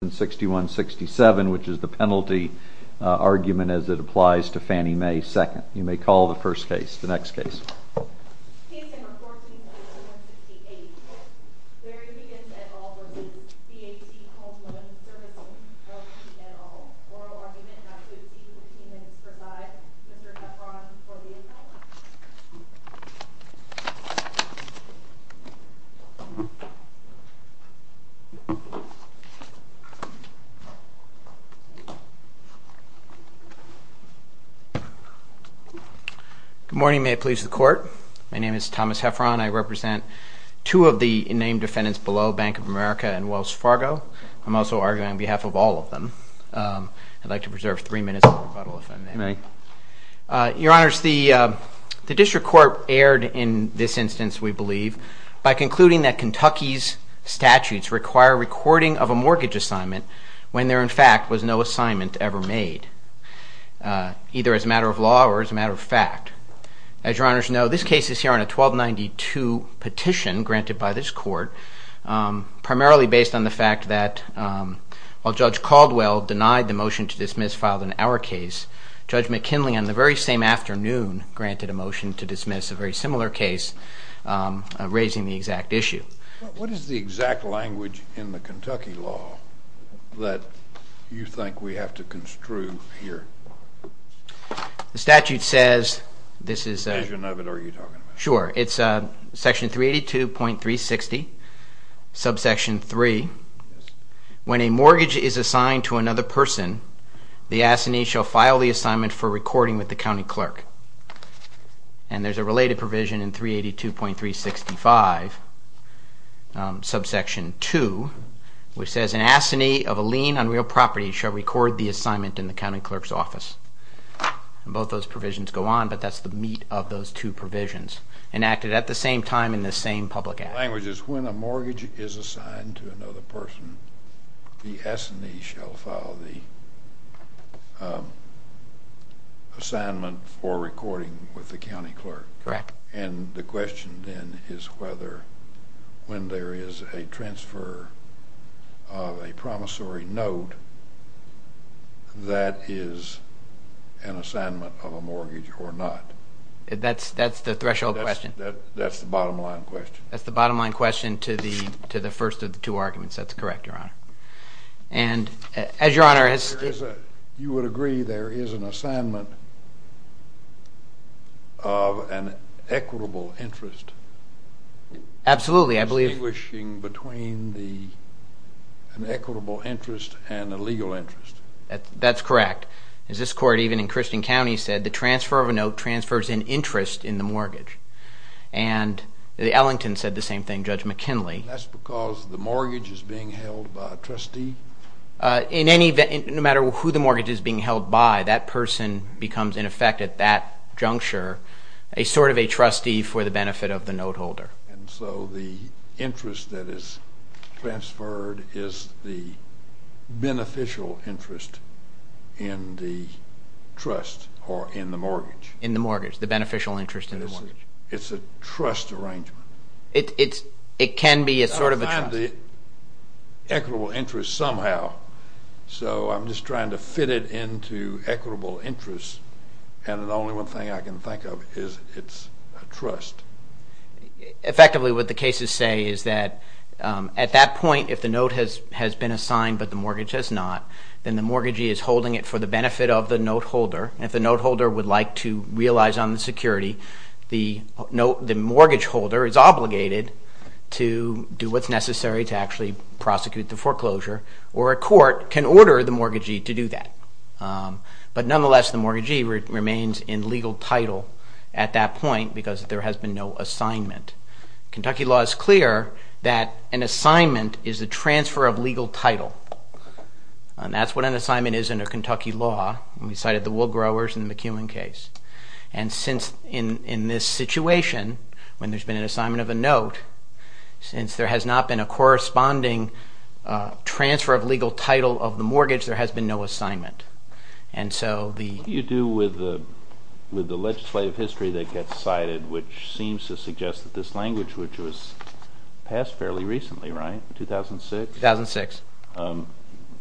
which is the penalty argument as it applies to Fannie Mae 2nd. You may call the first case. The next case. Good morning. May it please the court. My name is Thomas Heffron. I represent two of the named defendants below Bank of America and Wells Fargo. I'm also arguing on behalf of all of them. I'd like to preserve three minutes for rebuttal if I may. Your honors, the district court erred in this instance we believe by concluding that Kentucky's statutes require recording of a mortgage assignment when there in fact was no assignment ever made either as a matter of law or as a matter of fact. As your honors know, this case is here on a 1292 petition granted by this court primarily based on the fact that while Judge Caldwell denied the motion to dismiss filed in our case, Judge McKinley on the very same afternoon granted a motion to dismiss a very similar case raising the exact issue. What is the exact language in the Kentucky law that you think we have to construe here? The statute says this is section 382.360 subsection 3. When a mortgage is assigned to another person, the assignee shall file the assignment for recording with the county clerk. And there's a related provision in 382.365 subsection 2 which says an assignee of a lien on real property shall record the assignment in the county clerk's office. Both those provisions go on but that's the meat of those two provisions enacted at the same time in the same public act. The language is when a mortgage is assigned to another person, the assignee shall file the assignment for recording with the county clerk. And the question then is whether when there is a transfer of a promissory note that is an assignment of a mortgage or not. That's the threshold question. That's the bottom line question. That's the bottom line question to the first of the two arguments. That's correct, Your Honor. And as Your Honor has... You would agree there is an assignment of an equitable interest. Absolutely. I believe... Distinguishing between an equitable interest and a legal interest. That's correct. As this court even in Christian County said, the transfer of a note transfers an interest in the mortgage. And the Ellington said the same thing, Judge McKinley. That's because the mortgage is being held by a trustee? In any event, no matter who the mortgage is being held by, that person becomes in effect at that juncture a sort of a trustee for the benefit of the note holder. And so the interest that is transferred is the beneficial interest in the trust or in the mortgage. In the mortgage, the beneficial interest in the mortgage. It's a trust arrangement. It can be a sort of a trust. I've got to find the equitable interest somehow. So I'm just trying to fit it into equitable interest. And the only one thing I can think of is it's a trust. Effectively, what the cases say is that at that point, if the note has been assigned but the mortgage has not, then the mortgagee is holding it for the benefit of the note holder. And if the note holder would like to realize on the security, the mortgage holder is obligated to do what's necessary to actually prosecute the foreclosure. Or a court can order the mortgagee to do that. But nonetheless, the mortgagee remains in legal title at that point because there has been no assignment. Kentucky law is clear that an assignment is a transfer of legal title. And that's what an assignment is under Kentucky law. We cited the wool growers in the McEwen case. And since in this situation, when there's been an assignment of a note, since there has not been a corresponding transfer of legal title of the mortgage, there has been no assignment. What do you do with the legislative history that gets cited, which seems to suggest that this language, which was passed fairly recently, right? 2006? 2006.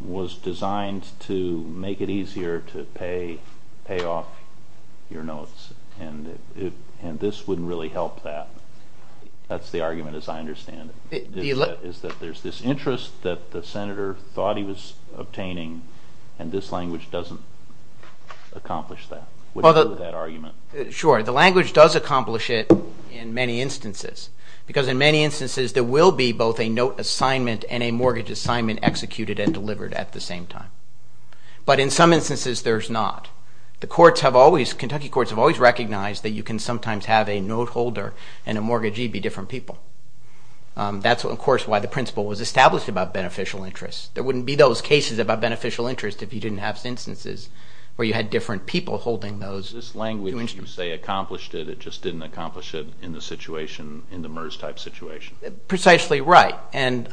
Was designed to make it easier to pay off your notes. And this wouldn't really help that. That's the argument as I understand it. Is that there's this interest that the Senator thought he was obtaining, and this language doesn't accomplish that. What do you do with that argument? Sure. The language does accomplish it in many instances. Because in many instances, there will be both a note assignment and a mortgage assignment executed and delivered at the same time. But in some instances, there's not. The courts have always, Kentucky courts have always recognized that you can sometimes have a note holder and a mortgagee be different people. That's, of course, why the principle was established about beneficial interest. There wouldn't be those cases about beneficial interest if you didn't have instances where you had different people holding those. This language, you say accomplished it. It just didn't accomplish it in the situation, in the MERS type situation. Precisely right. And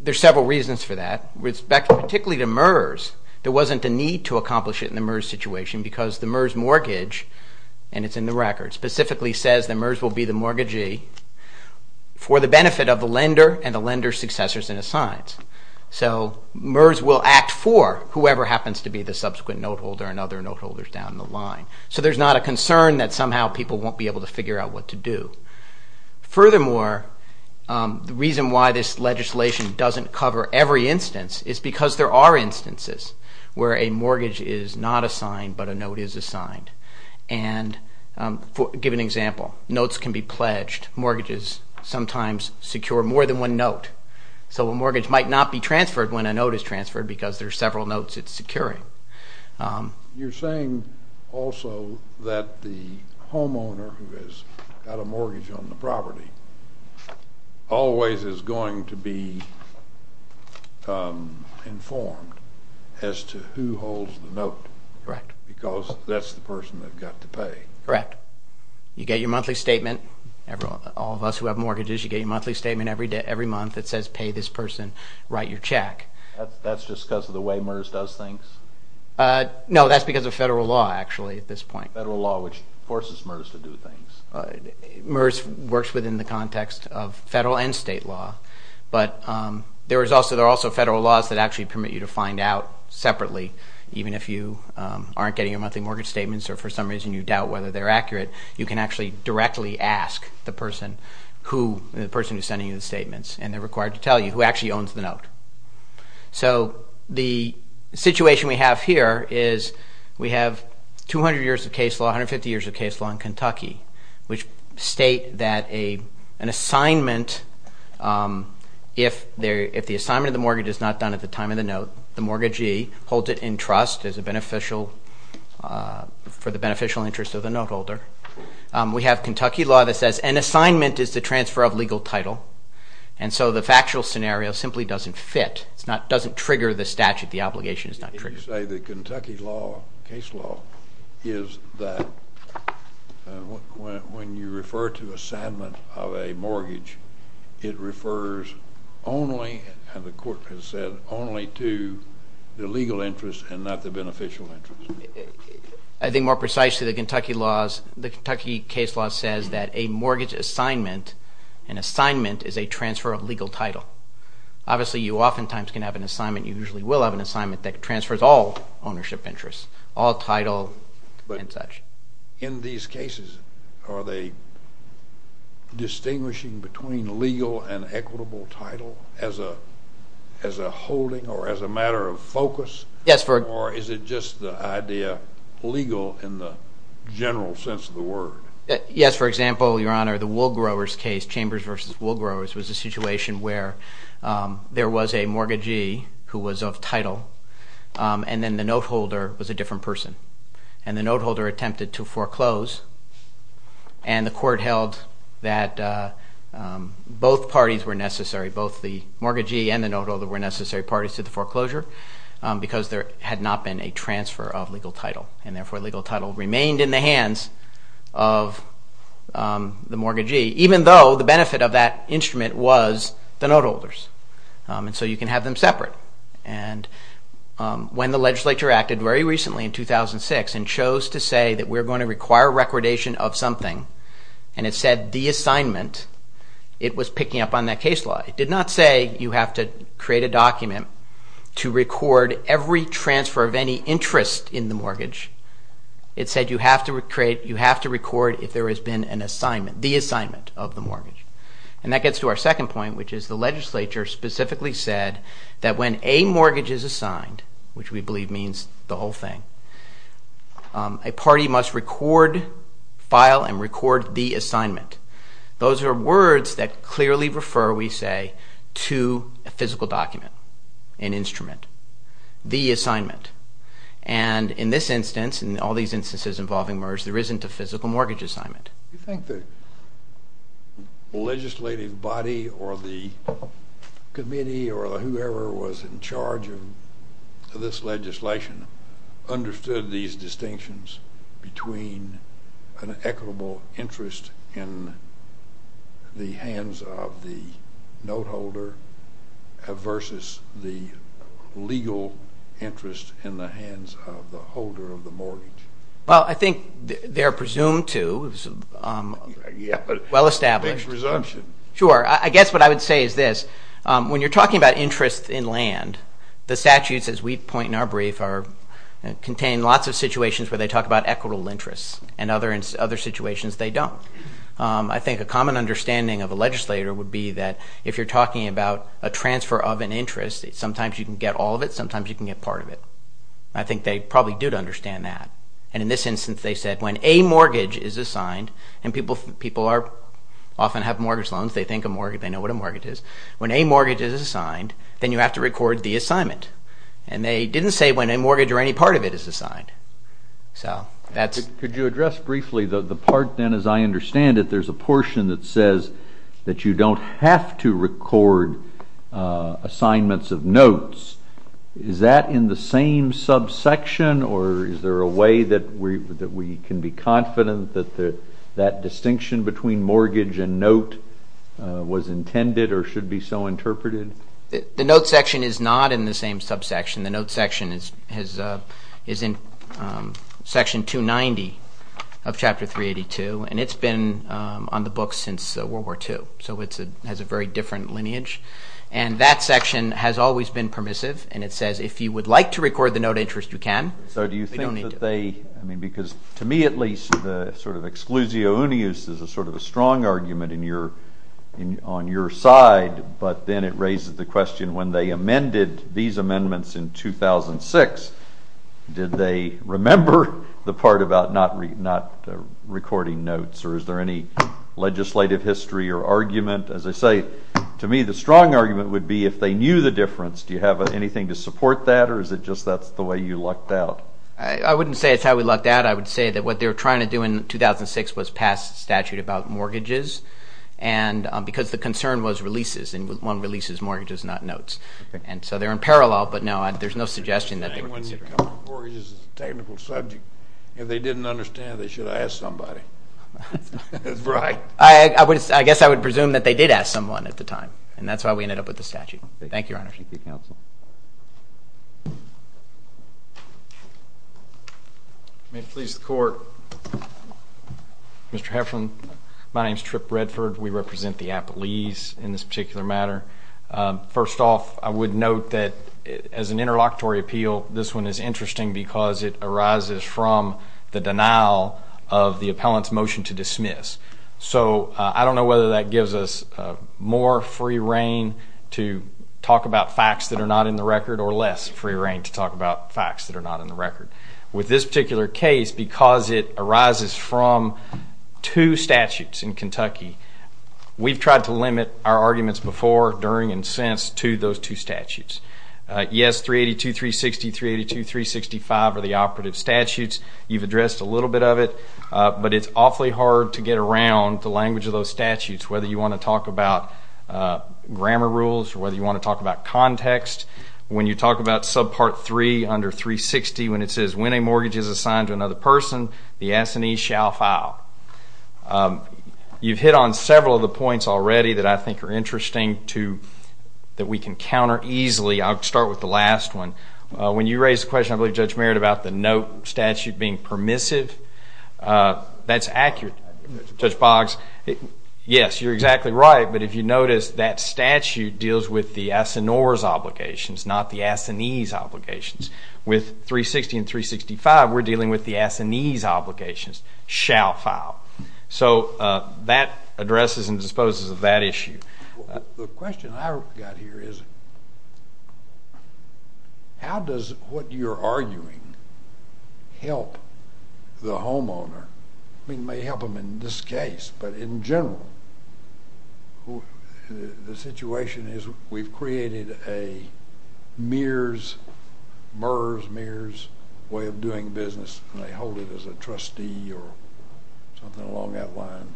there's several reasons for that. With respect particularly to MERS, there wasn't a need to accomplish it in the MERS situation because the MERS mortgage, and it's in the record, specifically says that MERS will be the mortgagee for the benefit of the lender and the lender's successors and assigns. So MERS will act for whoever happens to be the subsequent note holder and other note holders down the line. So there's not a concern that somehow people won't be able to figure out what to do. Furthermore, the reason why this legislation doesn't cover every instance is because there are instances where a mortgage is not assigned but a note is assigned. And to give an example, notes can be pledged. Mortgages sometimes secure more than one note. So a mortgage might not be transferred when a note is transferred because there are several notes it's securing. You're saying also that the homeowner who has got a mortgage on the property always is going to be informed as to who holds the note. Correct. Because that's the person that's got to pay. Correct. You get your monthly statement, all of us who have mortgages, you get your monthly statement every month that says pay this person, write your check. That's just because of the way MERS does things? No, that's because of federal law actually at this point. Federal law, which forces MERS to do things. MERS works within the context of federal and state law. But there are also federal laws that actually permit you to find out separately. Even if you aren't getting your monthly mortgage statements or for some reason you doubt whether they're accurate, you can actually directly ask the person who is sending you the statements, and they're required to tell you who actually owns the note. So the situation we have here is we have 200 years of case law, 150 years of case law in Kentucky, which state that an assignment, if the assignment of the mortgage is not done at the time of the note, the mortgagee holds it in trust for the beneficial interest of the note holder. We have Kentucky law that says an assignment is the transfer of legal title, and so the factual scenario simply doesn't fit. It doesn't trigger the statute. The obligation is not triggered. Did you say that Kentucky law, case law, is that when you refer to assignment of a mortgage, it refers only, as the court has said, only to the legal interest and not the beneficial interest? I think more precisely, the Kentucky case law says that a mortgage assignment, an assignment is a transfer of legal title. Obviously, you oftentimes can have an assignment. You usually will have an assignment that transfers all ownership interests, all title and such. In these cases, are they distinguishing between legal and equitable title as a holding or as a matter of focus? Yes. Or is it just the idea legal in the general sense of the word? Yes. For example, Your Honor, the wool growers case, Chambers v. Wool Growers, was a situation where there was a mortgagee who was of title, and then the note holder was a different person. And the note holder attempted to foreclose, and the court held that both parties were necessary, both the mortgagee and the note holder were necessary parties to the foreclosure because there had not been a transfer of legal title. And therefore, legal title remained in the hands of the mortgagee, even though the benefit of that instrument was the note holders. And so you can have them separate. And when the legislature acted very recently in 2006 and chose to say that we're going to require recordation of something, and it said the assignment, it was picking up on that case law. It did not say you have to create a document to record every transfer of any interest in the mortgage. It said you have to record if there has been an assignment, the assignment of the mortgage. And that gets to our second point, which is the legislature specifically said that when a mortgage is assigned, which we believe means the whole thing, a party must record, file, and record the assignment. Those are words that clearly refer, we say, to a physical document, an instrument, the assignment. And in this instance, in all these instances involving MERS, there isn't a physical mortgage assignment. Do you think the legislative body or the committee or whoever was in charge of this legislation understood these distinctions between an equitable interest in the hands of the note holder versus the legal interest in the hands of the holder of the mortgage? Well, I think they're presumed to. Big presumption. Sure. I guess what I would say is this. When you're talking about interest in land, the statutes, as we point in our brief, contain lots of situations where they talk about equitable interests, and other situations they don't. I think a common understanding of a legislator would be that if you're talking about a transfer of an interest, sometimes you can get all of it, sometimes you can get part of it. I think they probably do understand that. And in this instance, they said when a mortgage is assigned, and people often have mortgage loans, they think a mortgage, they know what a mortgage is. When a mortgage is assigned, then you have to record the assignment. And they didn't say when a mortgage or any part of it is assigned. Could you address briefly the part then, as I understand it, there's a portion that says that you don't have to record assignments of notes. Is that in the same subsection, or is there a way that we can be confident that that distinction between mortgage and note was intended or should be so interpreted? The note section is not in the same subsection. The note section is in Section 290 of Chapter 382, and it's been on the books since World War II. So it has a very different lineage. And that section has always been permissive, and it says if you would like to record the note interest, you can. So do you think that they, I mean, because to me at least, the sort of exclusio unius is a sort of a strong argument on your side, but then it raises the question when they amended these amendments in 2006, did they remember the part about not recording notes, or is there any legislative history or argument? As I say, to me the strong argument would be if they knew the difference, do you have anything to support that, or is it just that's the way you lucked out? I wouldn't say it's how we lucked out. I would say that what they were trying to do in 2006 was pass a statute about mortgages because the concern was releases, and one releases mortgages, not notes. And so they're in parallel, but no, there's no suggestion that they were considering. I think when you come to mortgages, it's a technical subject. If they didn't understand, they should have asked somebody. Right. I guess I would presume that they did ask someone at the time, and that's why we ended up with the statute. Thank you, Your Honor. Thank you, Counsel. May it please the Court. Mr. Heflin, my name is Trip Redford. We represent the Appellees in this particular matter. First off, I would note that as an interlocutory appeal, this one is interesting because it arises from the denial of the appellant's motion to dismiss. So I don't know whether that gives us more free reign to talk about facts that are not in the record or less free reign to talk about facts that are not in the record. With this particular case, because it arises from two statutes in Kentucky, we've tried to limit our arguments before, during, and since to those two statutes. Yes, 382.360, 382.365 are the operative statutes. You've addressed a little bit of it, but it's awfully hard to get around the language of those statutes, whether you want to talk about grammar rules or whether you want to talk about context. When you talk about subpart 3 under 360, when it says, When a mortgage is assigned to another person, the assignee shall file. You've hit on several of the points already that I think are interesting that we can counter easily. I'll start with the last one. When you raised the question, I believe, Judge Merritt, about the note statute being permissive, that's accurate. Judge Boggs, yes, you're exactly right, but if you notice, that statute deals with the assignee's obligations, not the assignee's obligations. With 360 and 365, we're dealing with the assignee's obligations, shall file. So that addresses and disposes of that issue. The question I've got here is, how does what you're arguing help the homeowner? It may help them in this case, but in general, the situation is we've created a mirrors, mirrors, mirrors way of doing business, and they hold it as a trustee or something along that line.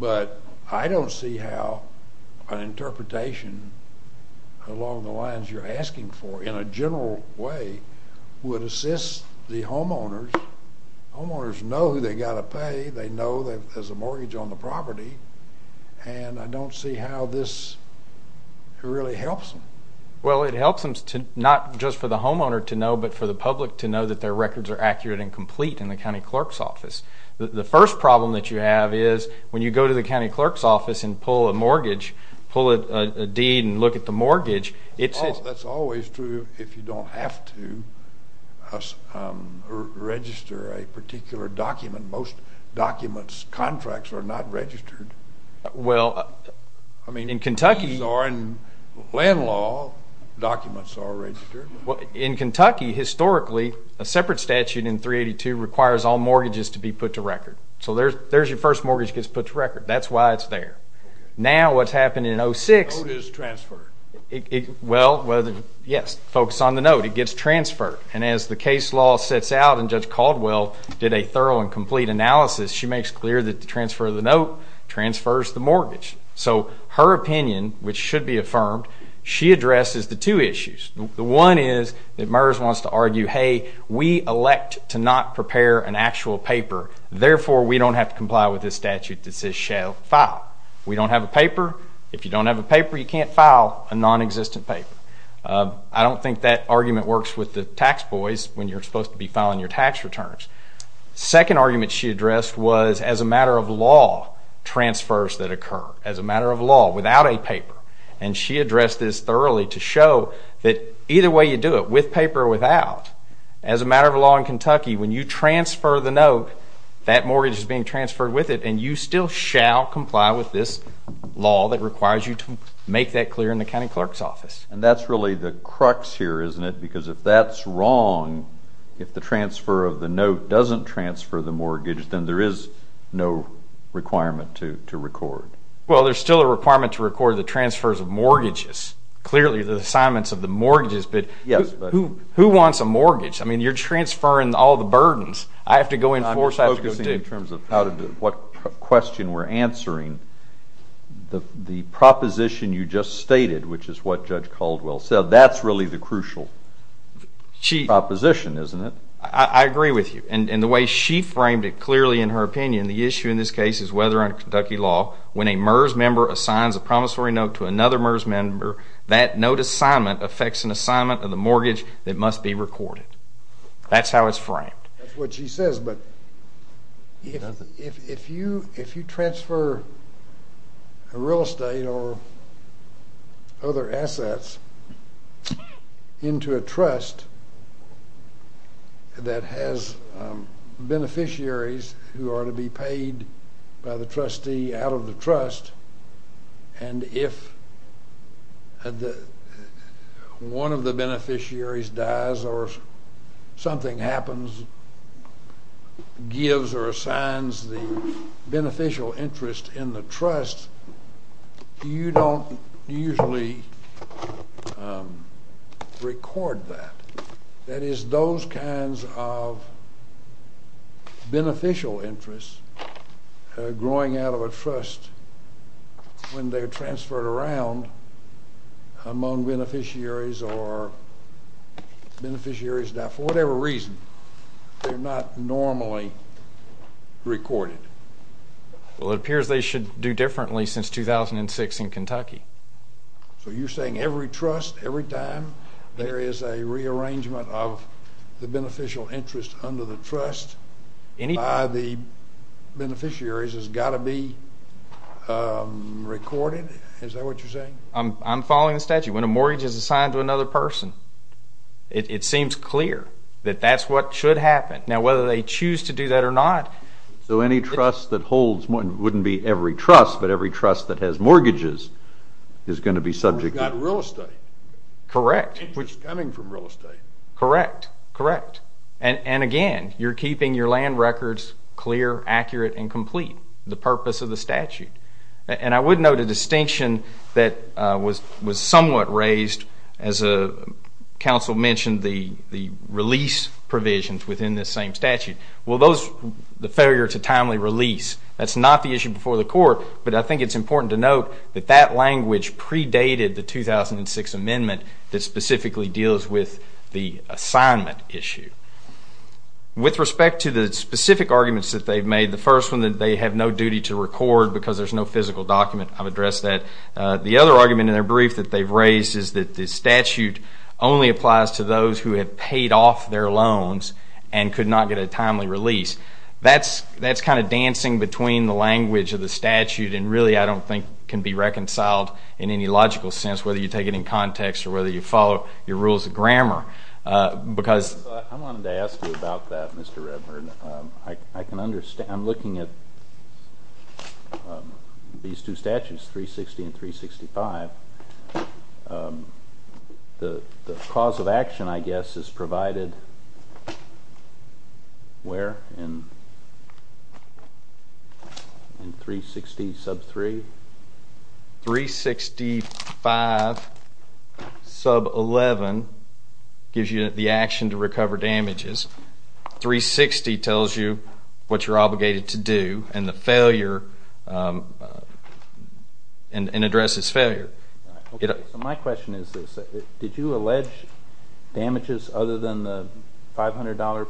But I don't see how an interpretation along the lines you're asking for in a general way would assist the homeowners. Homeowners know who they've got to pay. They know that there's a mortgage on the property, and I don't see how this really helps them. Well, it helps them not just for the homeowner to know, but for the public to know that their records are accurate and complete in the county clerk's office. The first problem that you have is when you go to the county clerk's office and pull a mortgage, pull a deed and look at the mortgage, it says— Well, that's always true if you don't have to register a particular document. Most documents, contracts are not registered. Well, in Kentucky— I mean, in land law, documents are registered. Well, in Kentucky, historically, a separate statute in 382 requires all mortgages to be put to record. So there's your first mortgage gets put to record. That's why it's there. Now what's happened in 06— The note is transferred. Well, yes, focus on the note. It gets transferred. And as the case law sets out, and Judge Caldwell did a thorough and complete analysis, she makes clear that the transfer of the note transfers the mortgage. So her opinion, which should be affirmed, she addresses the two issues. The one is that MERS wants to argue, hey, we elect to not prepare an actual paper, therefore we don't have to comply with this statute that says shall file. We don't have a paper. If you don't have a paper, you can't file a nonexistent paper. I don't think that argument works with the tax boys when you're supposed to be filing your tax returns. The second argument she addressed was as a matter of law, transfers that occur, as a matter of law, without a paper. And she addressed this thoroughly to show that either way you do it, with paper or without, as a matter of law in Kentucky, when you transfer the note, that mortgage is being transferred with it, and you still shall comply with this law that requires you to make that clear in the county clerk's office. And that's really the crux here, isn't it? Because if that's wrong, if the transfer of the note doesn't transfer the mortgage, then there is no requirement to record. Well, there's still a requirement to record the transfers of mortgages, clearly the assignments of the mortgages, but who wants a mortgage? I mean, you're transferring all the burdens. I have to go in four sides to go deep. I'm just focusing in terms of what question we're answering. The proposition you just stated, which is what Judge Caldwell said, that's really the crucial proposition, isn't it? I agree with you. And the way she framed it clearly in her opinion, the issue in this case is whether under Kentucky law when a MERS member assigns a promissory note to another MERS member, that note assignment affects an assignment of the mortgage that must be recorded. That's how it's framed. That's what she says, but if you transfer real estate or other assets into a trust that has beneficiaries who are to be paid by the trustee out of the trust, and if one of the beneficiaries dies or something happens, gives or assigns the beneficial interest in the trust, you don't usually record that. That is, those kinds of beneficial interests growing out of a trust when they're transferred around among beneficiaries or beneficiaries that for whatever reason they're not normally recorded. Well, it appears they should do differently since 2006 in Kentucky. So you're saying every trust, every time there is a rearrangement of the beneficial interest under the trust by the beneficiaries has got to be recorded? Is that what you're saying? I'm following the statute. When a mortgage is assigned to another person, it seems clear that that's what should happen. Now, whether they choose to do that or not… So any trust that holds, it wouldn't be every trust, but every trust that has mortgages is going to be subject to… You've got real estate. Correct. Interest coming from real estate. Correct, correct. And again, you're keeping your land records clear, accurate, and complete, the purpose of the statute. And I would note a distinction that was somewhat raised as a council mentioned the release provisions within this same statute. Well, the failure to timely release, that's not the issue before the court, but I think it's important to note that that language predated the 2006 amendment that specifically deals with the assignment issue. With respect to the specific arguments that they've made, the first one that they have no duty to record because there's no physical document, I've addressed that. The other argument in their brief that they've raised is that the statute only applies to those who have paid off their loans and could not get a timely release. That's kind of dancing between the language of the statute and really I don't think can be reconciled in any logical sense, whether you take it in context or whether you follow your rules of grammar. I wanted to ask you about that, Mr. Redburn. I'm looking at these two statutes, 360 and 365. The cause of action, I guess, is provided where in 360 sub 3? 365 sub 11 gives you the action to recover damages. 360 tells you what you're obligated to do and addresses failure. My question is this. Did you allege damages other than the $500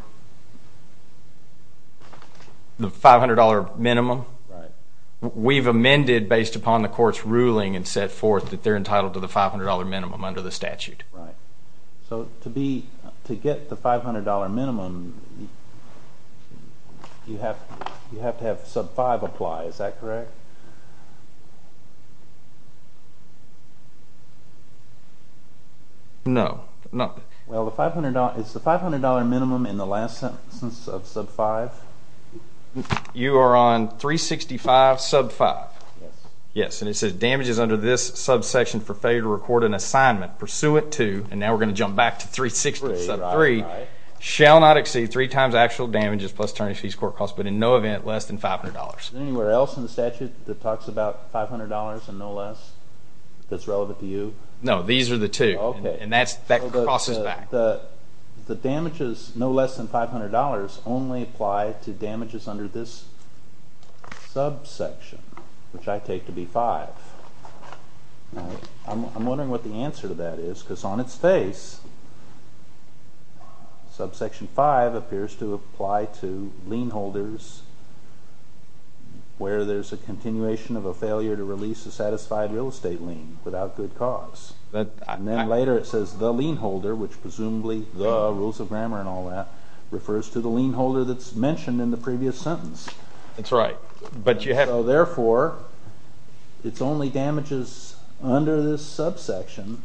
minimum? Right. We've amended based upon the court's ruling and set forth that they're entitled to the $500 minimum under the statute. Right. So to get the $500 minimum, you have to have sub 5 apply. Is that correct? No. Well, is the $500 minimum in the last sentence of sub 5? You are on 365 sub 5. Yes. Yes, and it says damages under this sub section for failure to record an assignment, pursuant to, and now we're going to jump back to 360 sub 3, shall not exceed three times actual damages plus attorney fees, court costs, but in no event less than $500. Is there anywhere else in the statute that talks about $500 and no less that's relevant to you? No, these are the two. And that crosses back. The damages no less than $500 only apply to damages under this sub section, which I take to be 5. I'm wondering what the answer to that is because on its face, sub section 5 appears to apply to lien holders where there's a continuation of a failure to release a satisfied real estate lien without good cause. And then later it says the lien holder, which presumably the rules of grammar and all that, refers to the lien holder that's mentioned in the previous sentence. That's right. So, therefore, it's only damages under this sub section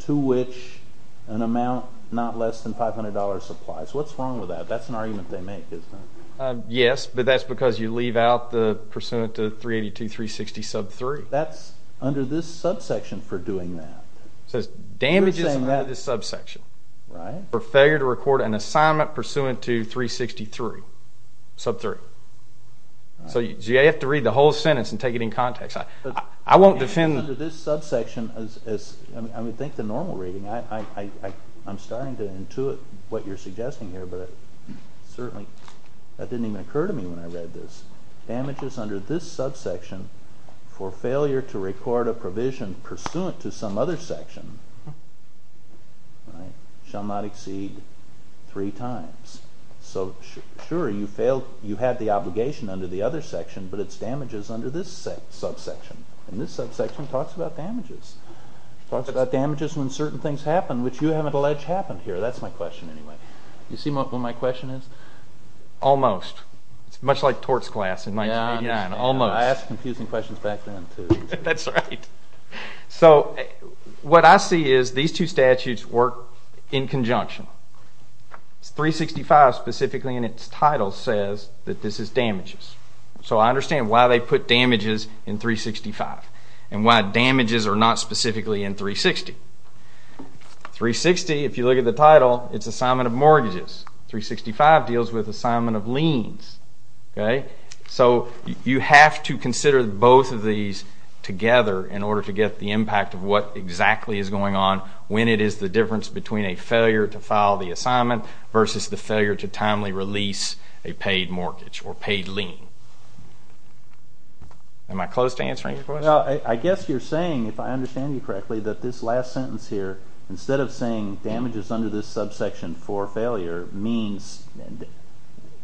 to which an amount not less than $500 applies. What's wrong with that? That's an argument they make, isn't it? Yes, but that's because you leave out the pursuant to 382 360 sub 3. That's under this sub section for doing that. It says damages under this sub section for failure to record an assignment pursuant to 363 sub 3. So you have to read the whole sentence and take it in context. I won't defend. Under this sub section, I would think the normal reading. I'm starting to intuit what you're suggesting here, but certainly that didn't even occur to me when I read this. Damages under this sub section for failure to record a provision pursuant to some other section shall not exceed 3 times. So, sure, you have the obligation under the other section, but it's damages under this sub section. And this sub section talks about damages. It talks about damages when certain things happen, which you haven't alleged happened here. That's my question, anyway. You see what my question is? Almost. It's much like torts class in 1989. Almost. I asked confusing questions back then, too. That's right. So what I see is these two statutes work in conjunction. 365 specifically in its title says that this is damages. So I understand why they put damages in 365 and why damages are not specifically in 360. 360, if you look at the title, it's assignment of mortgages. 365 deals with assignment of liens. So you have to consider both of these together in order to get the impact of what exactly is going on when it is the difference between a failure to file the assignment versus the failure to timely release a paid mortgage or paid lien. I guess you're saying, if I understand you correctly, that this last sentence here, instead of saying damages under this sub section for failure, means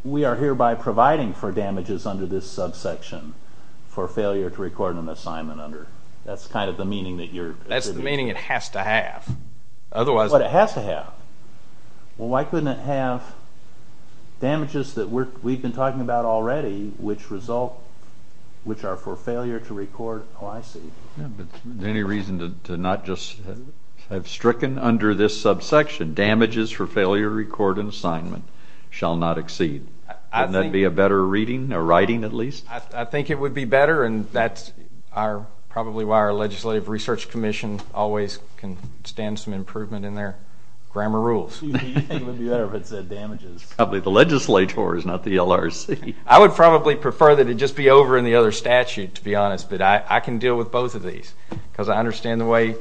we are hereby providing for damages under this sub section for failure to record an assignment under. That's kind of the meaning that you're... That's the meaning it has to have. But it has to have. Well, why couldn't it have damages that we've been talking about already, which result... which are for failure to record... Oh, I see. Any reason to not just have stricken under this sub section, damages for failure to record an assignment shall not exceed. Wouldn't that be a better reading, or writing at least? I think it would be better, and that's probably why our legislative research commission always can stand some improvement in their grammar rules. You think it would be better if it said damages. Probably the legislator is not the LRC. I would probably prefer that it just be over in the other statute, to be honest, but I can deal with both of these because I understand the way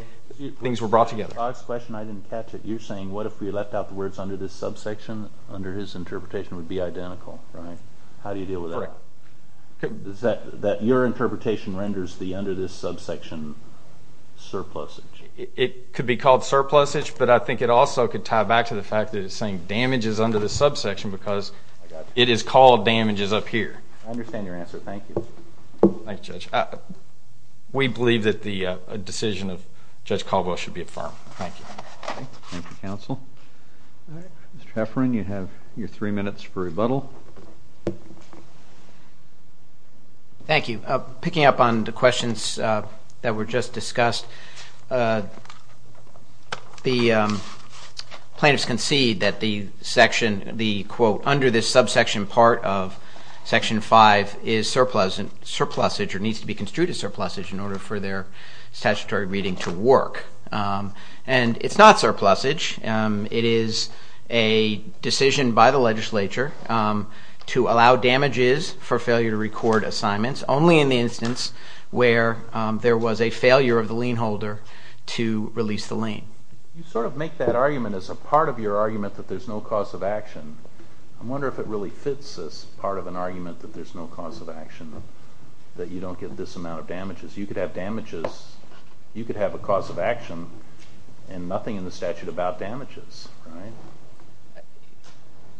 things were brought together. The last question, I didn't catch it. You're saying what if we left out the words under this sub section, under his interpretation would be identical, right? How do you deal with that? Correct. That your interpretation renders the under this sub section surplusage. It could be called surplusage, but I think it also could tie back to the fact that it's saying damages under this sub section because it is called damages up here. I understand your answer. Thank you. Thanks, Judge. We believe that the decision of Judge Caldwell should be affirmed. Thank you. Thank you, counsel. Mr. Hefferon, you have your three minutes for rebuttal. Thank you. Picking up on the questions that were just discussed, the plaintiffs concede that the section, the quote, under this sub section part of Section 5 is surplusage or needs to be construed as surplusage in order for their statutory reading to work. And it's not surplusage. It is a decision by the legislature to allow damages for failure to record assignments only in the instance where there was a failure of the lien holder to release the lien. You sort of make that argument as a part of your argument that there's no cause of action. I wonder if it really fits as part of an argument that there's no cause of action, you could have a cause of action and nothing in the statute about damages, right?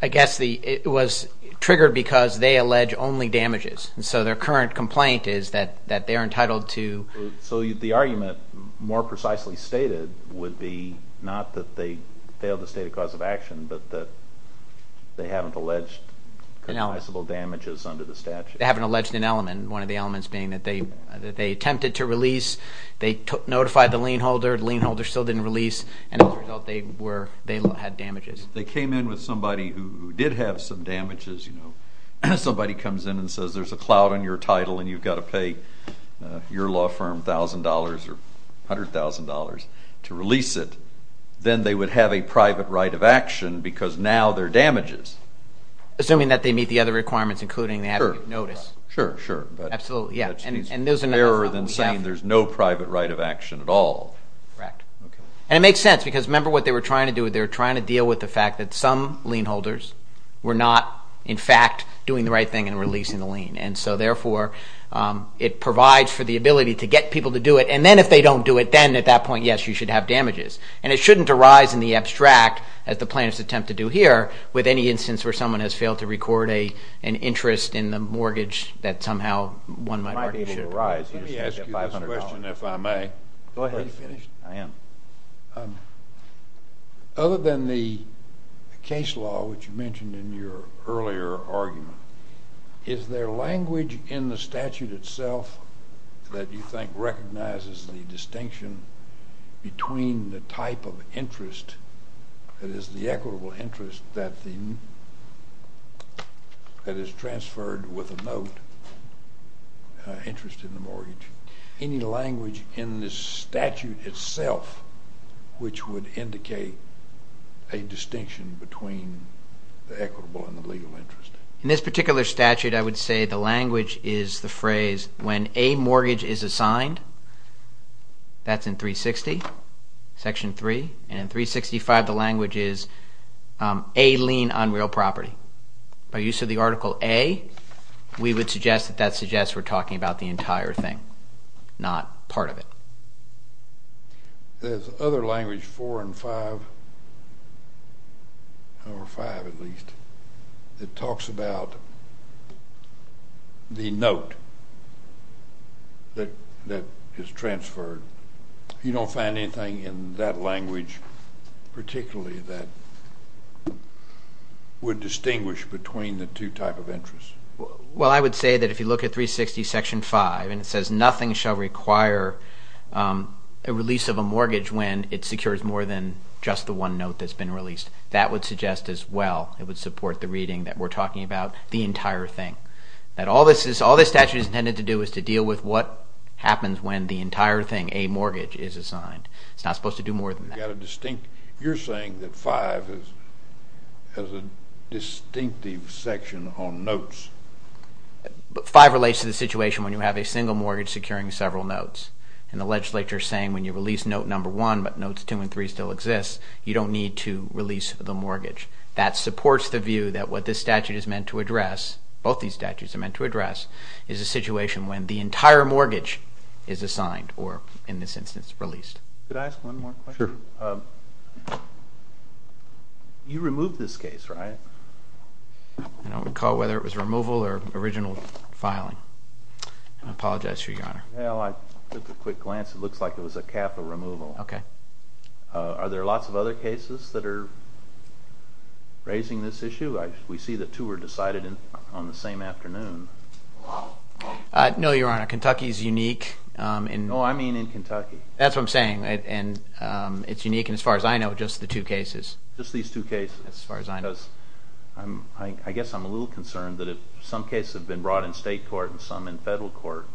I guess it was triggered because they allege only damages. So their current complaint is that they're entitled to So the argument more precisely stated would be not that they failed to state a cause of action, but that they haven't alleged customizable damages under the statute. They haven't alleged an element. And one of the elements being that they attempted to release. They notified the lien holder. The lien holder still didn't release. And as a result, they had damages. If they came in with somebody who did have some damages, you know, somebody comes in and says there's a cloud on your title and you've got to pay your law firm $1,000 or $100,000 to release it, then they would have a private right of action because now they're damages. Assuming that they meet the other requirements, including having a notice. Sure, sure. Absolutely, yeah. It's fairer than saying there's no private right of action at all. Correct. And it makes sense because remember what they were trying to do? They were trying to deal with the fact that some lien holders were not, in fact, doing the right thing in releasing the lien. And so, therefore, it provides for the ability to get people to do it. And then if they don't do it, then at that point, yes, you should have damages. And it shouldn't arise in the abstract, as the plaintiffs attempt to do here, with any instance where someone has failed to record an interest in the mortgage that somehow one might argue should arise. Let me ask you this question, if I may. Go ahead. Are you finished? I am. Other than the case law, which you mentioned in your earlier argument, is there language in the statute itself that you think recognizes the distinction between the type of interest that is the equitable interest that is transferred with a note, interest in the mortgage? Any language in this statute itself which would indicate a distinction between the equitable and the legal interest? In this particular statute, I would say the language is the phrase when a mortgage is assigned, that's in 360, Section 3. And in 365, the language is a lien on real property. By use of the Article A, we would suggest that that suggests we're talking about the entire thing, not part of it. There's other language, 4 and 5, or 5 at least, that talks about the note that is transferred. You don't find anything in that language particularly that would distinguish between the two types of interest? Well, I would say that if you look at 360, Section 5, and it says nothing shall require a release of a mortgage when it secures more than just the one note that's been released, that would suggest as well it would support the reading that we're talking about the entire thing. That all this statute is intended to do is to deal with what happens when the entire thing, a mortgage, is assigned. It's not supposed to do more than that. You're saying that 5 has a distinctive section on notes. 5 relates to the situation when you have a single mortgage securing several notes. And the legislature is saying when you release note number 1, but notes 2 and 3 still exist, you don't need to release the mortgage. That supports the view that what this statute is meant to address, both these statutes are meant to address, is a situation when the entire mortgage is assigned, or in this instance, released. Could I ask one more question? Sure. You removed this case, right? I don't recall whether it was removal or original filing. I apologize for your honor. Well, I took a quick glance. It looks like it was a capital removal. Okay. Are there lots of other cases that are raising this issue? We see that two were decided on the same afternoon. No, your honor. Kentucky is unique. Oh, I mean in Kentucky. That's what I'm saying. It's unique, and as far as I know, just the two cases. Just these two cases. As far as I know. I guess I'm a little concerned that some cases have been brought in state court and some in federal court.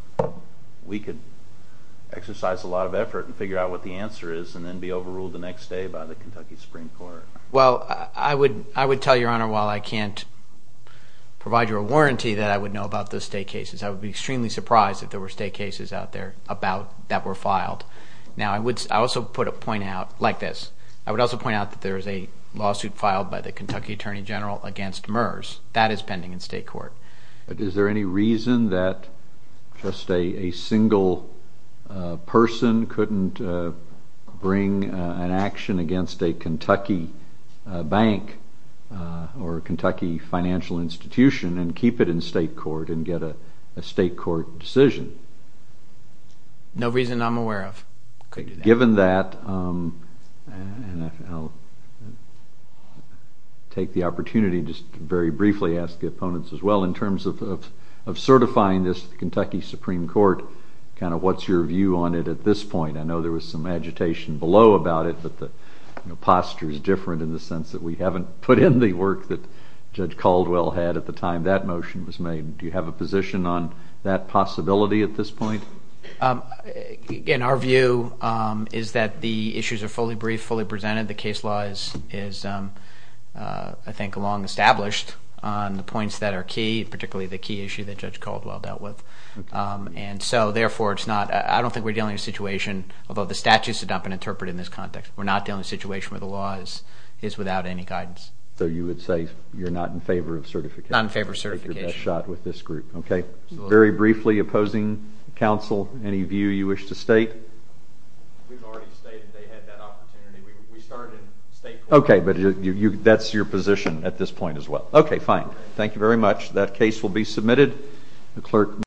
We could exercise a lot of effort and figure out what the answer is and then be overruled the next day by the Kentucky Supreme Court. Well, I would tell your honor, while I can't provide you a warranty that I would know about those state cases, I would be extremely surprised if there were state cases out there that were filed. Now, I would also point out, like this, I would also point out that there is a lawsuit filed by the Kentucky Attorney General against MERS. That is pending in state court. Is there any reason that just a single person couldn't bring an action against a Kentucky bank or a Kentucky financial institution and keep it in state court and get a state court decision? No reason I'm aware of. Given that, and I'll take the opportunity just to very briefly ask the opponents as well, in terms of certifying this to the Kentucky Supreme Court, kind of what's your view on it at this point? I know there was some agitation below about it, but the posture is different in the sense that we haven't put in the work that Judge Caldwell had at the time that motion was made. Do you have a position on that possibility at this point? Again, our view is that the issues are fully briefed, fully presented. The case law is, I think, long established on the points that are key, particularly the key issue that Judge Caldwell dealt with. And so, therefore, it's not, I don't think we're dealing with a situation, although the statute is to dump an interpreter in this context, we're not dealing with a situation where the law is without any guidance. So you would say you're not in favor of certification? Not in favor of certification. I think you're best shot with this group. Okay. Very briefly, opposing counsel, any view you wish to state? We've already stated they had that opportunity. We started in state court. Okay, but that's your position at this point as well. Okay, fine. Thank you very much. That case will be submitted.